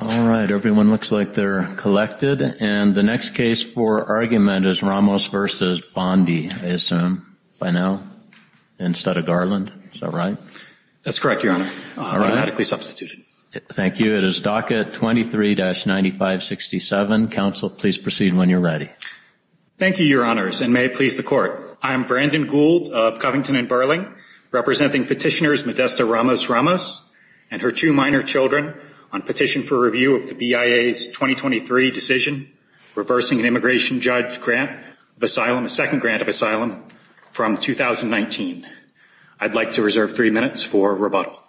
All right, everyone looks like they're collected, and the next case for argument is Ramos v. Bondi, I assume, by now, instead of Garland, is that right? That's correct, Your Honor. All right. Automatically substituted. Thank you. It is docket 23-9567. Counsel, please proceed when you're ready. Thank you, Your Honors, and may it please the Court. I am Brandon Gould of Covington and Burling, representing Petitioners Modesta Ramos-Ramos and her two minor children on petition for review of the BIA's 2023 decision reversing an immigration judge grant of asylum, a second grant of asylum, from 2019. I'd like to reserve three minutes for rebuttal.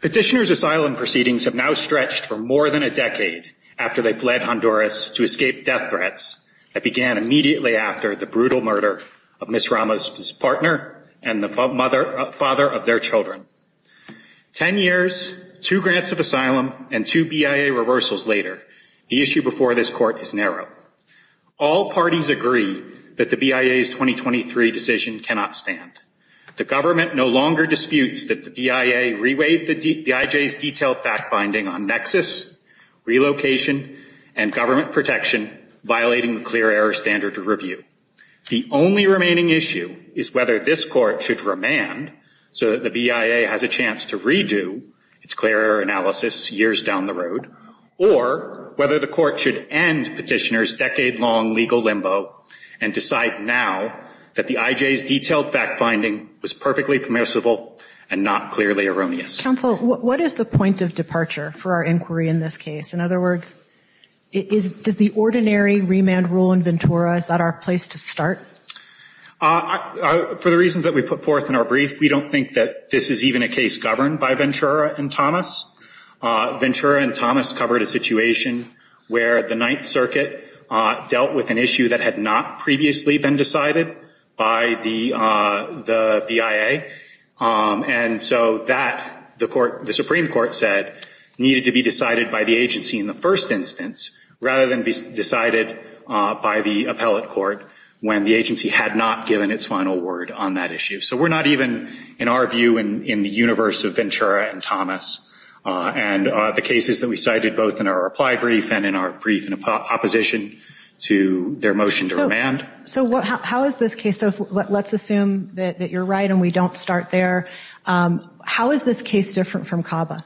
Petitioners' asylum proceedings have now stretched for more than a decade after they fled Honduras to escape death threats that began immediately after the brutal murder of Ms. Ramos' partner and the father of their children. Ten years, two grants of asylum, and two BIA reversals later, the issue before this Court is narrow. All parties agree that the BIA's 2023 decision cannot stand. The government no longer disputes that the BIA reweighed the IJ's detailed fact-finding on nexus, relocation, and government protection, violating the clear error standard of review. The only remaining issue is whether this Court should remand so that the BIA has a chance to redo its clear error analysis years down the road, or whether the Court should end Petitioners' decade-long legal limbo and decide now that the IJ's detailed fact-finding was perfectly permissible and not clearly erroneous. Counsel, what is the point of departure for our inquiry in this case? In other words, does the ordinary remand rule in Ventura, is that our place to start? For the reasons that we put forth in our brief, we don't think that this is even a case governed by Ventura and Thomas. Ventura and Thomas covered a situation where the Ninth Circuit dealt with an issue that had not previously been decided by the BIA, and so that, the Supreme Court said, needed to be decided by the agency in the first instance, rather than be decided by the appellate court when the agency had not given its final word on that issue. So we're not even, in our view, in the universe of Ventura and Thomas, and the cases that we cited both in our reply brief and in our brief in opposition to their motion to remand. So how is this case, so let's assume that you're right and we don't start there. How is this case different from CABA?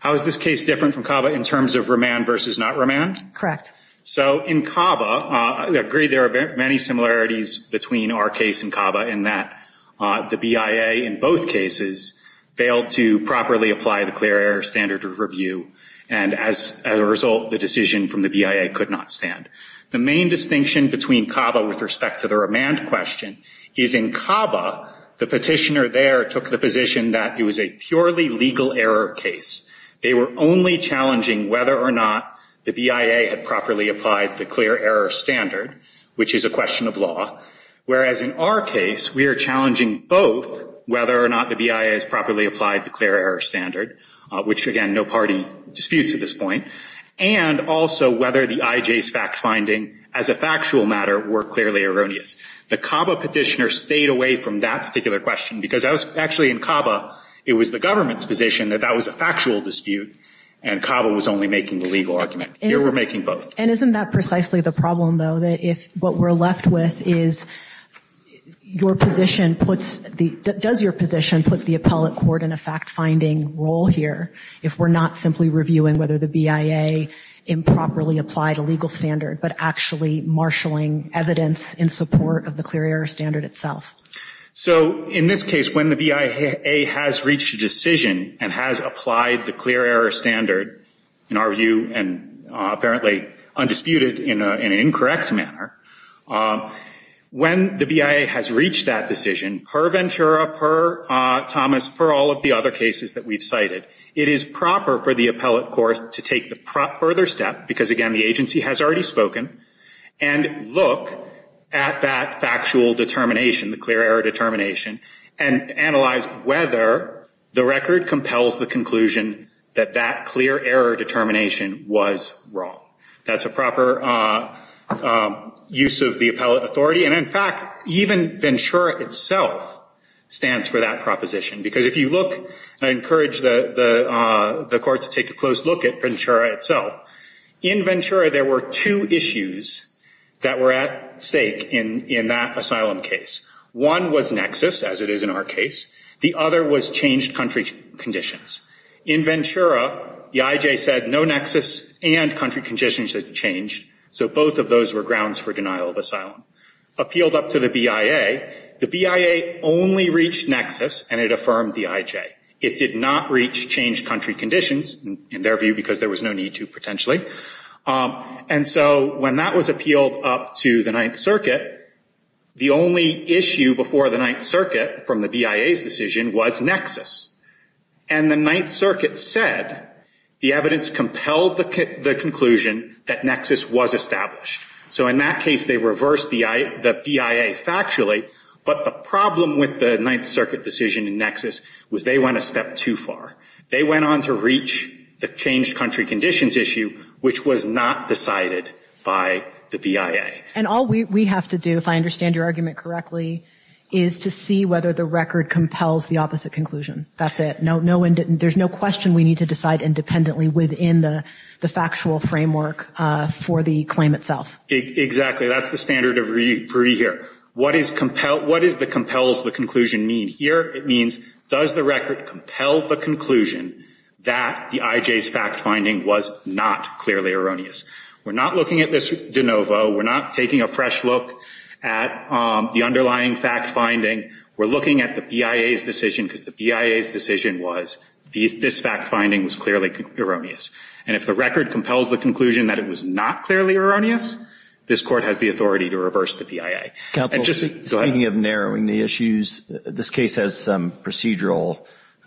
How is this case different from CABA in terms of remand versus not remand? Correct. So in CABA, I agree there are many similarities between our case and CABA in that the BIA in both cases failed to properly apply the clear error standard of review, and as a result, the decision from the BIA could not stand. The main distinction between CABA with respect to the remand question is in CABA, the petitioner there took the position that it was a purely legal error case. They were only challenging whether or not the BIA had properly applied the clear error standard, which is a question of law, whereas in our case, we are challenging both whether or not the BIA has properly applied the clear error standard, which again, no party disputes at this point, and also whether the IJ's fact finding as a factual matter were clearly erroneous. The CABA petitioner stayed away from that particular question, because actually in CABA, it was the government's position that that was a factual dispute, and CABA was only making the legal argument. Here, we're making both. And isn't that precisely the problem, though, that if what we're left with is, does your position put the appellate court in a fact-finding role here if we're not simply reviewing whether the BIA improperly applied a legal standard, but actually marshaling evidence in support of the clear error standard itself? So in this case, when the BIA has reached a decision and has applied the clear error standard, in our view, and apparently undisputed in an incorrect manner, when the BIA has reached that decision, per Ventura, per Thomas, per all of the other cases that we've cited, it is proper for the appellate court to take the further step, because again, the agency has already spoken, and look at that factual determination, the clear error determination, and analyze whether the record compels the conclusion that that clear error determination was wrong. That's a proper use of the appellate authority. And in fact, even Ventura itself stands for that proposition. Because if you look, I encourage the court to take a close look at Ventura itself. In Ventura, there were two issues that were at stake in that asylum case. One was nexus, as it is in our case. The other was changed country conditions. In Ventura, the IJ said no nexus and country conditions had changed, so both of those were grounds for denial of asylum. Appealed up to the BIA, the BIA only reached nexus, and it affirmed the IJ. It did not reach changed country conditions, in their view, because there was no need to, And so when that was appealed up to the Ninth Circuit, the only issue before the Ninth Circuit from the BIA's decision was nexus. And the Ninth Circuit said the evidence compelled the conclusion that nexus was established. So in that case, they reversed the BIA factually, but the problem with the Ninth Circuit decision in nexus was they went a step too far. They went on to reach the changed country conditions issue, which was not decided by the BIA. And all we have to do, if I understand your argument correctly, is to see whether the record compels the opposite conclusion. That's it. There's no question we need to decide independently within the factual framework for the claim itself. Exactly. That's the standard of reading here. What is the compels the conclusion mean? Here it means, does the record compel the conclusion that the IJ's fact-finding was not clearly erroneous? We're not looking at this de novo. We're not taking a fresh look at the underlying fact-finding. We're looking at the BIA's decision, because the BIA's decision was this fact-finding was clearly erroneous. And if the record compels the conclusion that it was not clearly erroneous, this Court has the authority to reverse the BIA. Counsel, speaking of narrowing the issues, this case has some procedural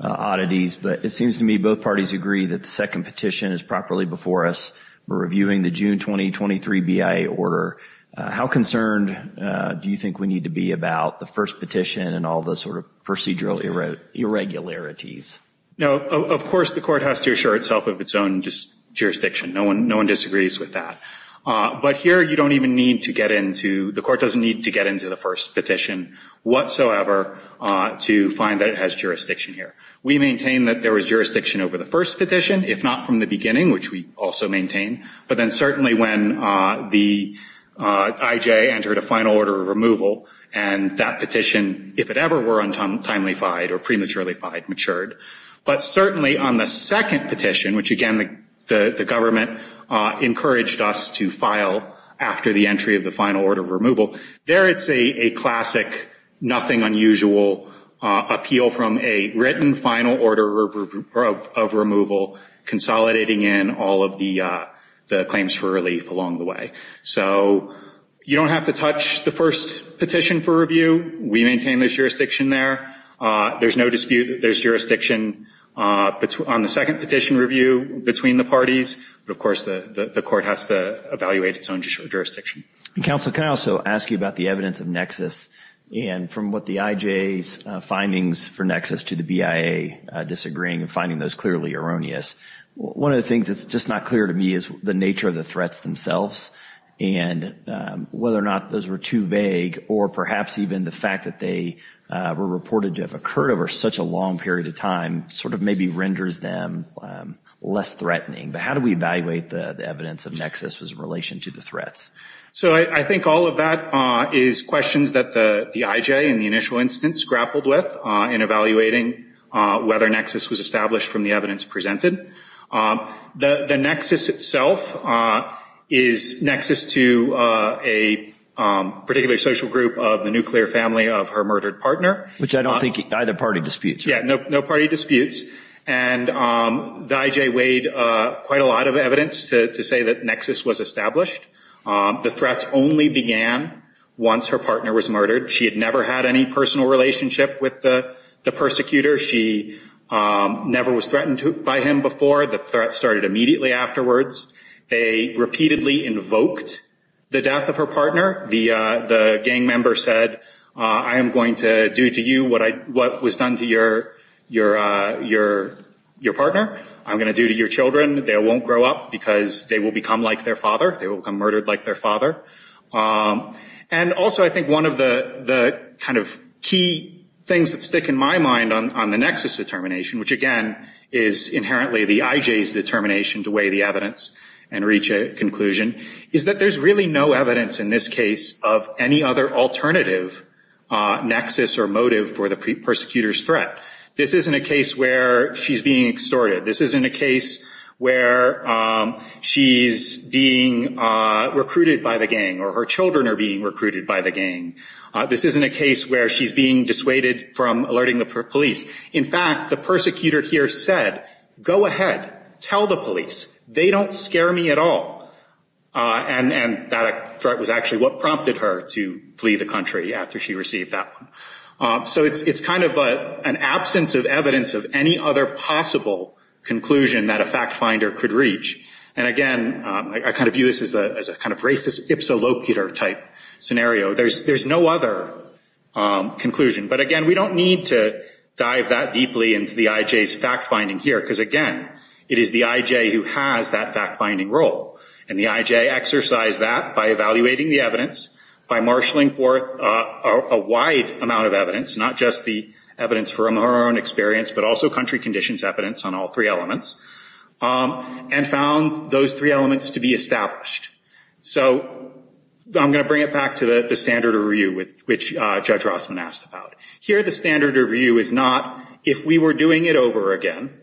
oddities, but it seems to me both parties agree that the second petition is properly before us. We're reviewing the June 2023 BIA order. How concerned do you think we need to be about the first petition and all the sort of procedural irregularities? No, of course the Court has to assure itself of its own jurisdiction. No one disagrees with that. But here you don't even need to get into, the Court doesn't need to get into the first petition whatsoever to find that it has jurisdiction here. We maintain that there was jurisdiction over the first petition, if not from the beginning, which we also maintain. But then certainly when the IJ entered a final order of removal, and that petition, if it were untimely fied or prematurely fied, matured, but certainly on the second petition, which again the government encouraged us to file after the entry of the final order of removal, there it's a classic nothing unusual appeal from a written final order of removal, consolidating in all of the claims for relief along the way. So you don't have to touch the first petition for review. We maintain there's jurisdiction there. There's no dispute that there's jurisdiction on the second petition review between the parties, but of course the Court has to evaluate its own jurisdiction. Counsel can I also ask you about the evidence of nexus and from what the IJ's findings for nexus to the BIA disagreeing and finding those clearly erroneous. One of the things that's just not clear to me is the nature of the threats themselves and whether or not those were too vague or perhaps even the fact that they were reported to have occurred over such a long period of time sort of maybe renders them less threatening. But how do we evaluate the evidence of nexus as a relation to the threats? So I think all of that is questions that the IJ in the initial instance grappled with in evaluating whether nexus was established from the evidence presented. The nexus itself is nexus to a particular social group of the nuclear family of her murdered partner. Which I don't think either party disputes. Yeah, no party disputes. And the IJ weighed quite a lot of evidence to say that nexus was established. The threats only began once her partner was murdered. She had never had any personal relationship with the persecutor. She never was threatened by him before. The threat started immediately afterwards. They repeatedly invoked the death of her partner. The gang member said, I am going to do to you what was done to your partner. I'm going to do to your children. They won't grow up because they will become like their father. They will become murdered like their father. And also I think one of the kind of key things that stick in my mind on the nexus determination, which again is inherently the IJ's determination to weigh the evidence and reach a conclusion, is that there's really no evidence in this case of any other alternative nexus or motive for the persecutor's threat. This isn't a case where she's being extorted. This isn't a case where she's being recruited by the gang or her children are being recruited by the gang. This isn't a case where she's being dissuaded from alerting the police. In fact, the persecutor here said, go ahead, tell the police. They don't scare me at all. And that threat was actually what prompted her to flee the country after she received that one. So it's kind of an absence of evidence of any other possible conclusion that a fact finder could reach. And again, I kind of view this as a kind of racist, ipsilocular type scenario. There's no other conclusion. But again, we don't need to dive that deeply into the IJ's fact finding here, because again, it is the IJ who has that fact finding role. And the IJ exercised that by evaluating the evidence, by marshaling forth a wide amount of evidence, not just the evidence from her own experience, but also country conditions evidence on all three elements, and found those three elements to be established. So I'm going to bring it back to the standard of review, which Judge Rossman asked about. Here the standard of review is not, if we were doing it over again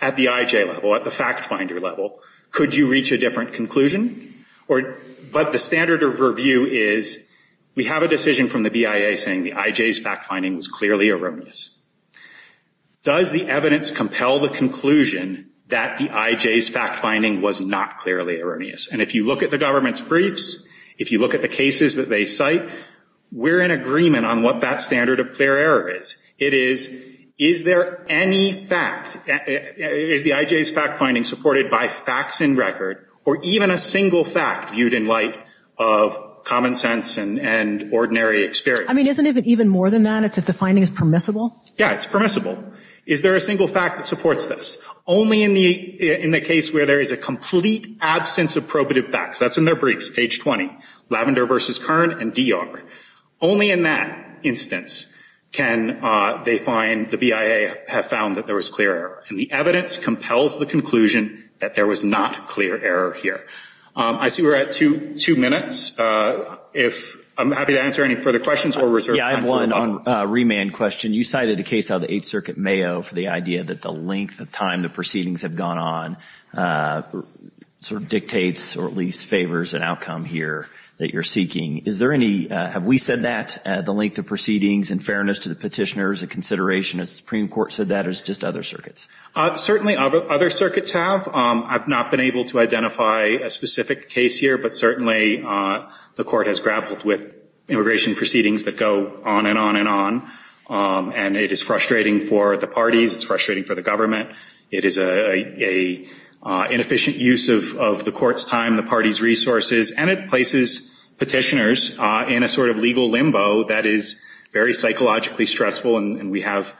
at the IJ level, at the fact finder level, could you reach a different conclusion? But the standard of review is, we have a decision from the BIA saying the IJ's fact finding was clearly erroneous. Does the evidence compel the conclusion that the IJ's fact finding was not clearly erroneous? And if you look at the government's briefs, if you look at the cases that they cite, we're in agreement on what that standard of clear error is. It is, is there any fact, is the IJ's fact finding supported by facts in record, or even a single fact viewed in light of common sense and ordinary experience? I mean, isn't it even more than that? It's if the finding is permissible? Yeah, it's permissible. Is there a single fact that supports this? Only in the case where there is a complete absence of probative facts. That's in their briefs, page 20, Lavender v. Kern and D.R. Only in that instance can they find, the BIA have found that there was clear error. And the evidence compels the conclusion that there was not clear error here. I see we're at two minutes. If, I'm happy to answer any further questions or reserve time for one. Yeah, I have one on remand question. You cited a case out of the Eighth Circuit, Mayo, for the idea that the length of time the proceedings have gone on sort of dictates or at least favors an outcome here that you're seeking. Is there any, have we said that, the length of proceedings in fairness to the petitioner is a consideration? Has the Supreme Court said that or is it just other circuits? Certainly other circuits have. I've not been able to identify a specific case here, but certainly the court has grappled with immigration proceedings that go on and on and on. And it is frustrating for the parties, it's frustrating for the government. It is an inefficient use of the court's time, the party's resources. And it places petitioners in a sort of legal limbo that is very psychologically stressful and we have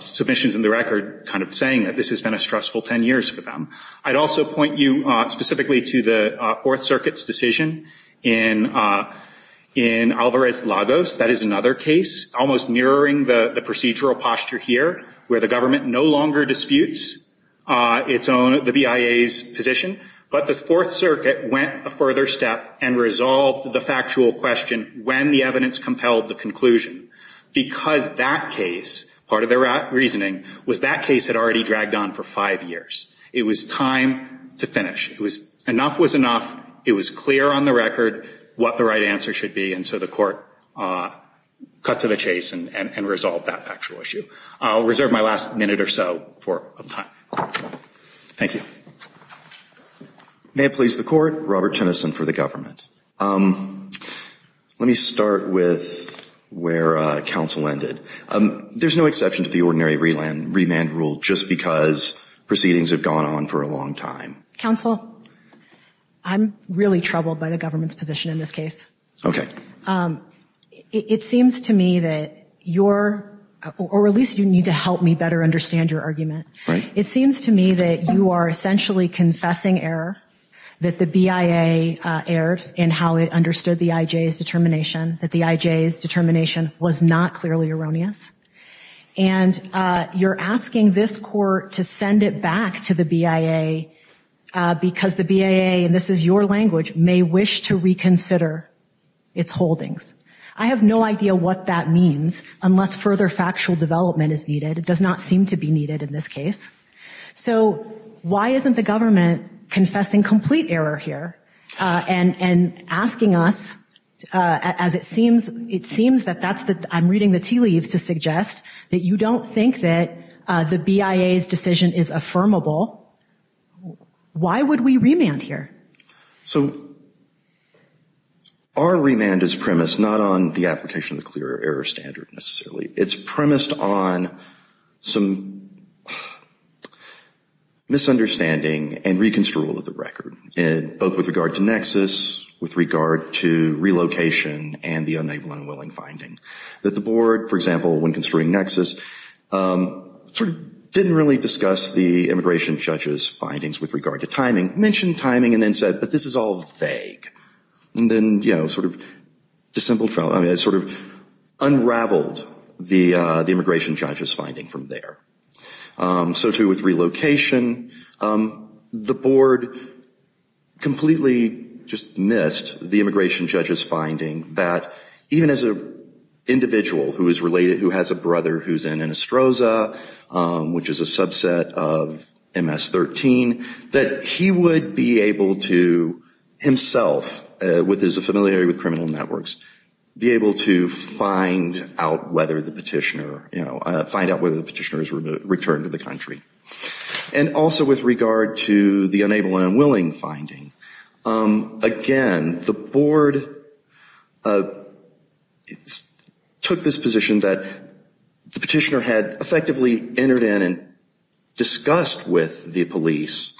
submissions in the record kind of saying that this has been a stressful ten years for them. I'd also point you specifically to the Fourth Circuit's decision in Alvarez-Lagos. That is another case, almost mirroring the procedural posture here, where the government no longer disputes its own, the BIA's position. But the Fourth Circuit went a further step and resolved the factual question when the evidence compelled the conclusion. Because that case, part of their reasoning, was that case had already dragged on for five years. It was time to finish. Enough was enough. It was clear on the record what the right answer should be and so the court cut to the chase and resolved that factual issue. I'll reserve my last minute or so of time. Thank you. May it please the court, Robert Tennyson for the government. Let me start with where counsel ended. There's no exception to the ordinary remand rule just because proceedings have gone on for a long time. Counsel, I'm really troubled by the government's position in this case. It seems to me that you're, or at least you need to help me better understand your argument. It seems to me that you are essentially confessing error, that the BIA erred in how it understood the IJ's determination, that the IJ's determination was not clearly erroneous, and you're asking this court to send it back to the BIA because the BIA, and this is your language, may wish to reconsider its holdings. I have no idea what that means unless further factual development is needed. It does not seem to be needed in this case. So why isn't the government confessing complete error here and asking us, as it seems, it seems that that's the, I'm reading the tea leaves to suggest that you don't think that the BIA's decision is affirmable. Why would we remand here? So our remand is premised not on the application of the clear error standard necessarily. It's premised on some misunderstanding and re-construal of the record, both with regard to nexus, with regard to relocation, and the unable and unwilling finding, that the board, for example, when construing nexus, sort of didn't really discuss the immigration judge's findings with regard to timing, mentioned timing, and then said, but this is all vague. And then, you know, sort of unraveled the immigration judge's finding from there. So too with relocation, the board completely just missed the immigration judge's finding that even as an individual who has a brother who's in Anastroza, which is a subset of MS-13, that he would be able to himself, with his familiarity with criminal networks, be able to find out whether the petitioner, you know, find out whether the petitioner's returned to the country. And also with regard to the unable and unwilling finding, again, the board took this position that the petitioner had effectively entered in and discussed with the police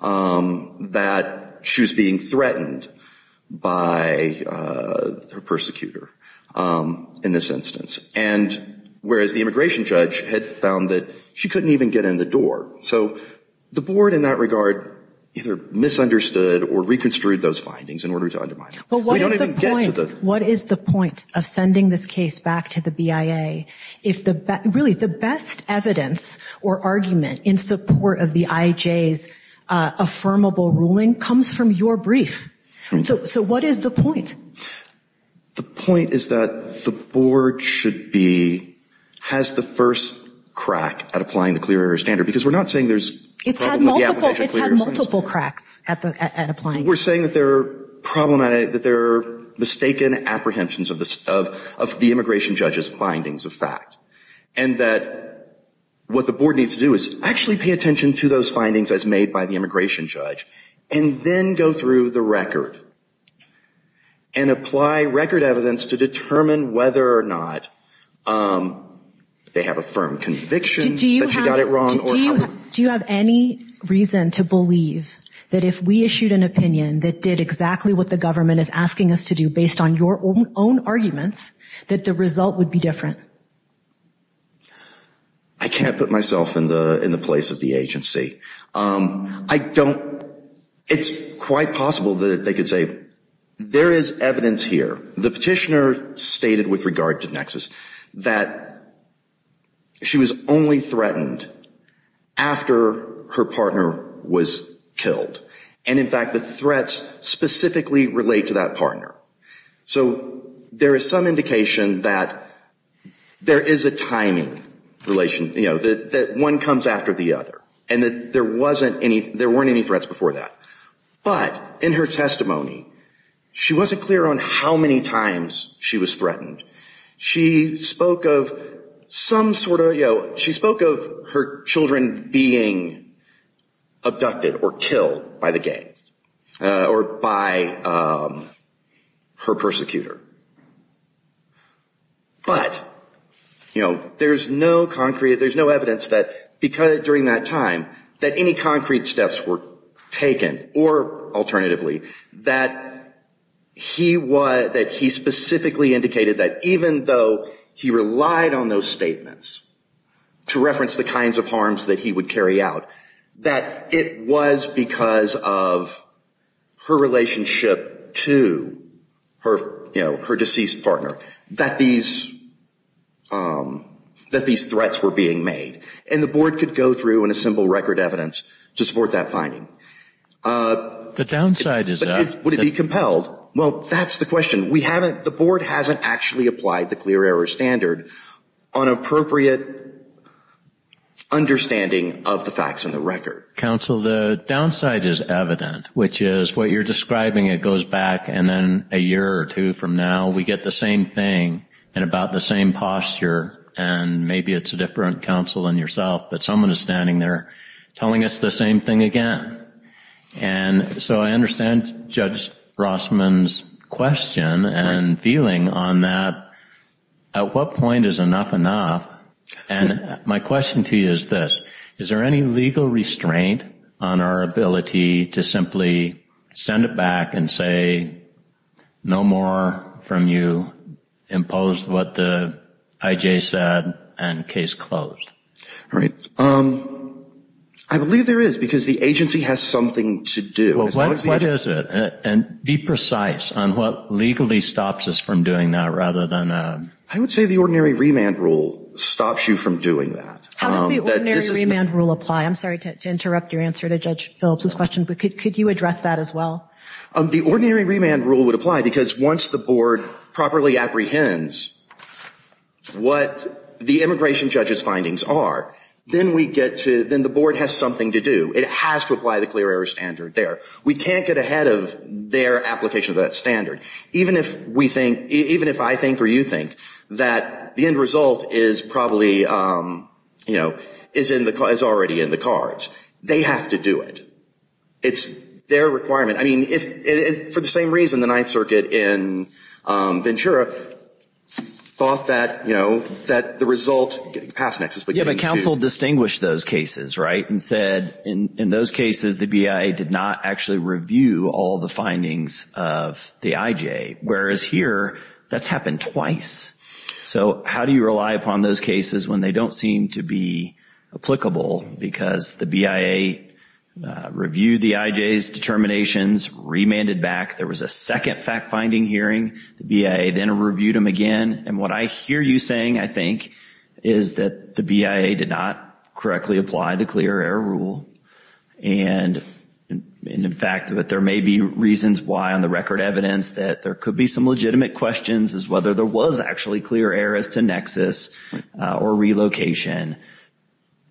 that she was being threatened by her persecutor in this instance. And whereas the immigration judge had found that she couldn't even get in the door. So the board in that regard either misunderstood or re-construed those findings in order to undermine them. But what is the point of sending this case back to the BIA if really the best evidence or argument in support of the IJ's affirmable ruling comes from your brief? So what is the point? The point is that the board should be, has the first crack at applying the clear air standard. Because we're not saying there's a problem with the application of clear air standards. We're saying that there are problematic, that there are mistaken apprehensions of the immigration judge's findings of fact. And that what the board needs to do is actually pay attention to those findings as made by the immigration judge. And then go through the record. And apply record evidence to determine whether or not they have a firm conviction that she got it wrong. Do you have any reason to believe that if we issued an opinion that did exactly what the government is asking us to do based on your own arguments, that the result would be different? I can't put myself in the place of the agency. It's quite possible that they could say, there is evidence here, the petitioner stated with regard to Nexus, that she was only threatened after her partner was killed. And in fact, the threats specifically relate to that partner. So there is some indication that there is a timing relation, you know, that one comes after the other. And that there wasn't any, there weren't any threats before that. But in her testimony, she wasn't clear on how many times she was threatened. She spoke of some sort of, you know, she spoke of her children being abducted or killed by the gangs. Or by her persecutor. But, you know, there's no concrete, there's no evidence that during that time, that any concrete steps were taken or alternatively, that he was, that he specifically indicated that even though he relied on those statements to reference the kinds of harms that he would carry out, that it was because of her relationship to her, you know, her deceased partner, that these, that these threats were being made. And the board could go through and assemble record evidence to support that finding. The downside is that... Would it be compelled? Well, that's the question. We haven't, the board hasn't actually applied the clear error standard on appropriate understanding of the facts in the record. Counsel, the downside is evident, which is what you're describing, it goes back and then a year or two from now, we get the same thing and about the same posture, and maybe it's a different counsel than yourself, but someone is standing there telling us the same thing again. And so I understand Judge Rossman's question and feeling on that. At what point is enough enough? And my question to you is this. Is there any legal restraint on our ability to simply send it back and say, no more from you, impose what the I.J. said, and case closed? All right. I believe there is, because the agency has something to do. Well, what is it? And be precise on what legally stops us from doing that rather than... I would say the ordinary remand rule stops you from doing that. How does the ordinary remand rule apply? I'm sorry to interrupt your answer to Judge Phillips' question, but could you address that as well? The ordinary remand rule would apply because once the board properly apprehends what the immigration judge's findings are, then we get to, then the board has something to do. It has to apply the clear error standard there. We can't get ahead of their application of that standard. Even if we think, even if I think or you think that the end result is probably, you know, is already in the cards. They have to do it. It's their requirement. I mean, if, for the same reason the Ninth Circuit in Ventura thought that, you know, that the result... Yeah, but counsel distinguished those cases, right, and said in those cases the BIA did not actually review all the findings of the I.J. Whereas here, that's happened twice. So how do you rely upon those cases when they don't seem to be applicable? Because the BIA reviewed the I.J.'s determinations, remanded back. There was a second fact-finding hearing. The BIA then reviewed them again. And what I hear you saying, I think, is that the BIA did not correctly apply the clear error rule. And in fact that there may be reasons why on the record evidence that there could be some legitimate questions as whether there was actually clear errors to nexus or relocation.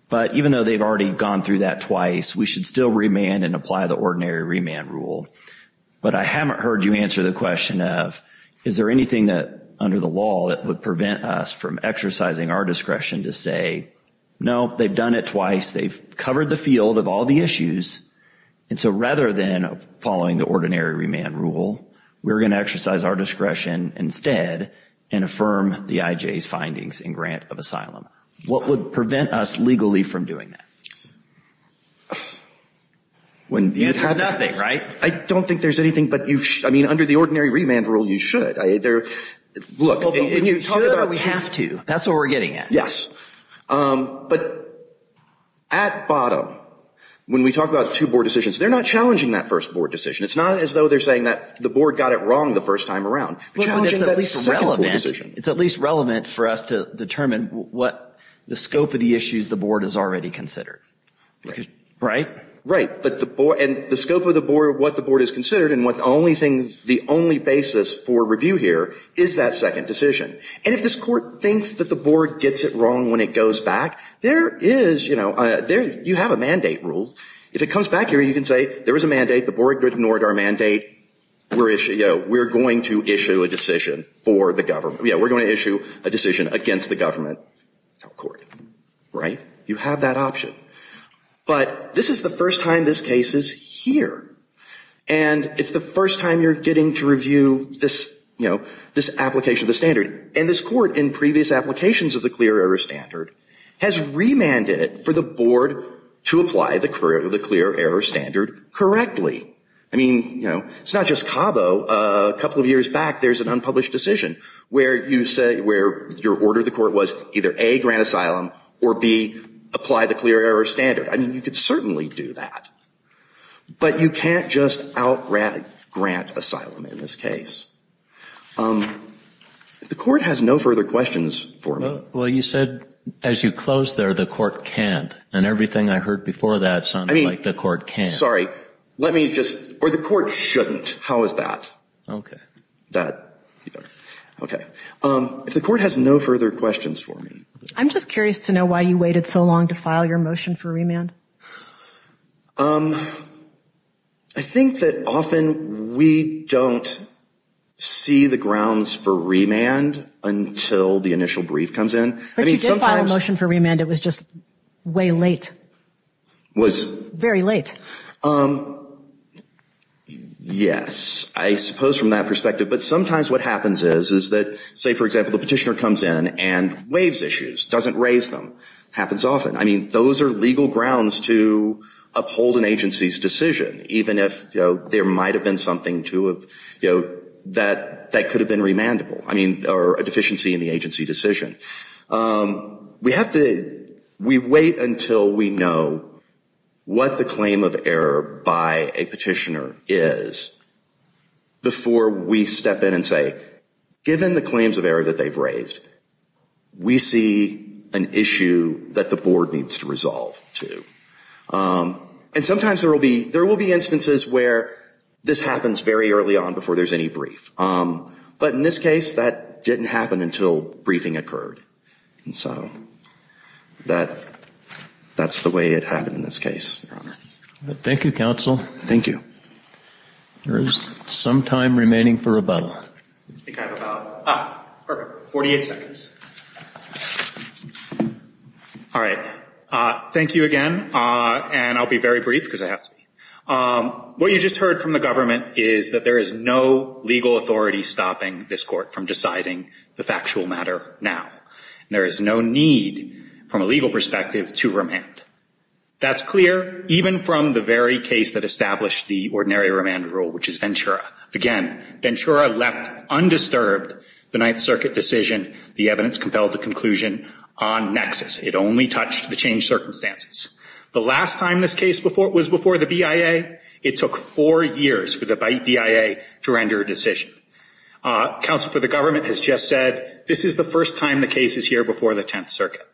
But even though they've already gone through that twice, we should still remand and apply the ordinary remand rule. But I haven't heard you answer the question of, is there anything that, under the law, that would prevent us from exercising our discretion to say, no, they've done it twice. They've covered the field of all the issues. And so rather than following the ordinary remand rule, we're going to exercise our discretion instead and affirm the I.J.'s findings in grant of asylum. What would prevent us legally from doing that? It's nothing, right? I don't think there's anything, but under the ordinary remand rule, you should. We should or we have to. That's what we're getting at. Yes. But at bottom, when we talk about two board decisions, they're not challenging that first board decision. It's not as though they're saying that the board got it wrong the first time around. It's at least relevant for us to determine what the scope of the issues the board has already considered. Right? Right. And the scope of the board, what the board has considered, and the only basis for review here is that second decision. And if this Court thinks that the board gets it wrong when it goes back, there is, you know, you have a mandate rule. If it comes back here, you can say, there was a mandate, the board ignored our mandate, we're going to issue a decision for the government. We're going to issue a decision against the government. Right? You have that option. But this is the first time this case is here. And it's the first time you're getting to review this, you know, this application of the standard. And this Court, in previous applications of the clear error standard, has remanded it for the board to apply the clear error standard correctly. I mean, you know, it's not just Cabo. A couple of years back, there's an unpublished decision where you say, where your order of the Court was either A, grant asylum, or B, apply the clear error standard. I mean, you could certainly do that. But you can't just out grant asylum in this case. The Court has no further questions for me. Well, you said as you closed there, the Court can't. And everything I heard before that sounded like the Court can. Sorry. Or the Court shouldn't. How is that? If the Court has no further questions for me. I'm just curious to know why you waited so long to file your motion for remand. I think that often we don't see the grounds for remand until the initial brief comes in. But you did file a motion for remand. It was just way late. Very late. Yes. I suppose from that perspective. But sometimes what happens is that, say, for example, the petitioner comes in and waives issues, doesn't raise them. Happens often. I mean, those are legal grounds to uphold an agency's decision. Even if there might have been something to have, you know, that could have been remandable. I mean, or a deficiency in the agency decision. We wait until we know what the claim of error by a petitioner is before we step in and say, given the claims of error that they've raised, we see an issue that the Board needs to resolve to. And sometimes there will be instances where this happens very early on before there's any brief. But in this case, that didn't happen until briefing occurred. And so that's the way it happened in this case, Your Honor. Thank you, Counsel. Thank you. There is some time remaining for rebuttal. All right. Thank you again. And I'll be very brief because I have to be. What you just heard from the government is that there is no legal authority stopping this court from deciding the factual matter now. There is no need from a legal perspective to remand. That's clear even from the very case that established the ordinary remand rule, which is Ventura. Again, Ventura left undisturbed the Ninth Circuit decision. The evidence compelled the conclusion on nexus. It only touched the changed circumstances. The last time this case was before the BIA, it took four years for the BIA to render a decision. Counsel for the government has just said, this is the first time the case is here before the Tenth Circuit.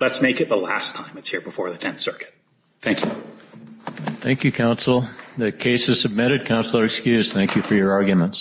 Let's make it the last time it's here before the Tenth Circuit. Thank you. Thank you, Counsel. The case is submitted. Counsel are excused. Thank you for your arguments.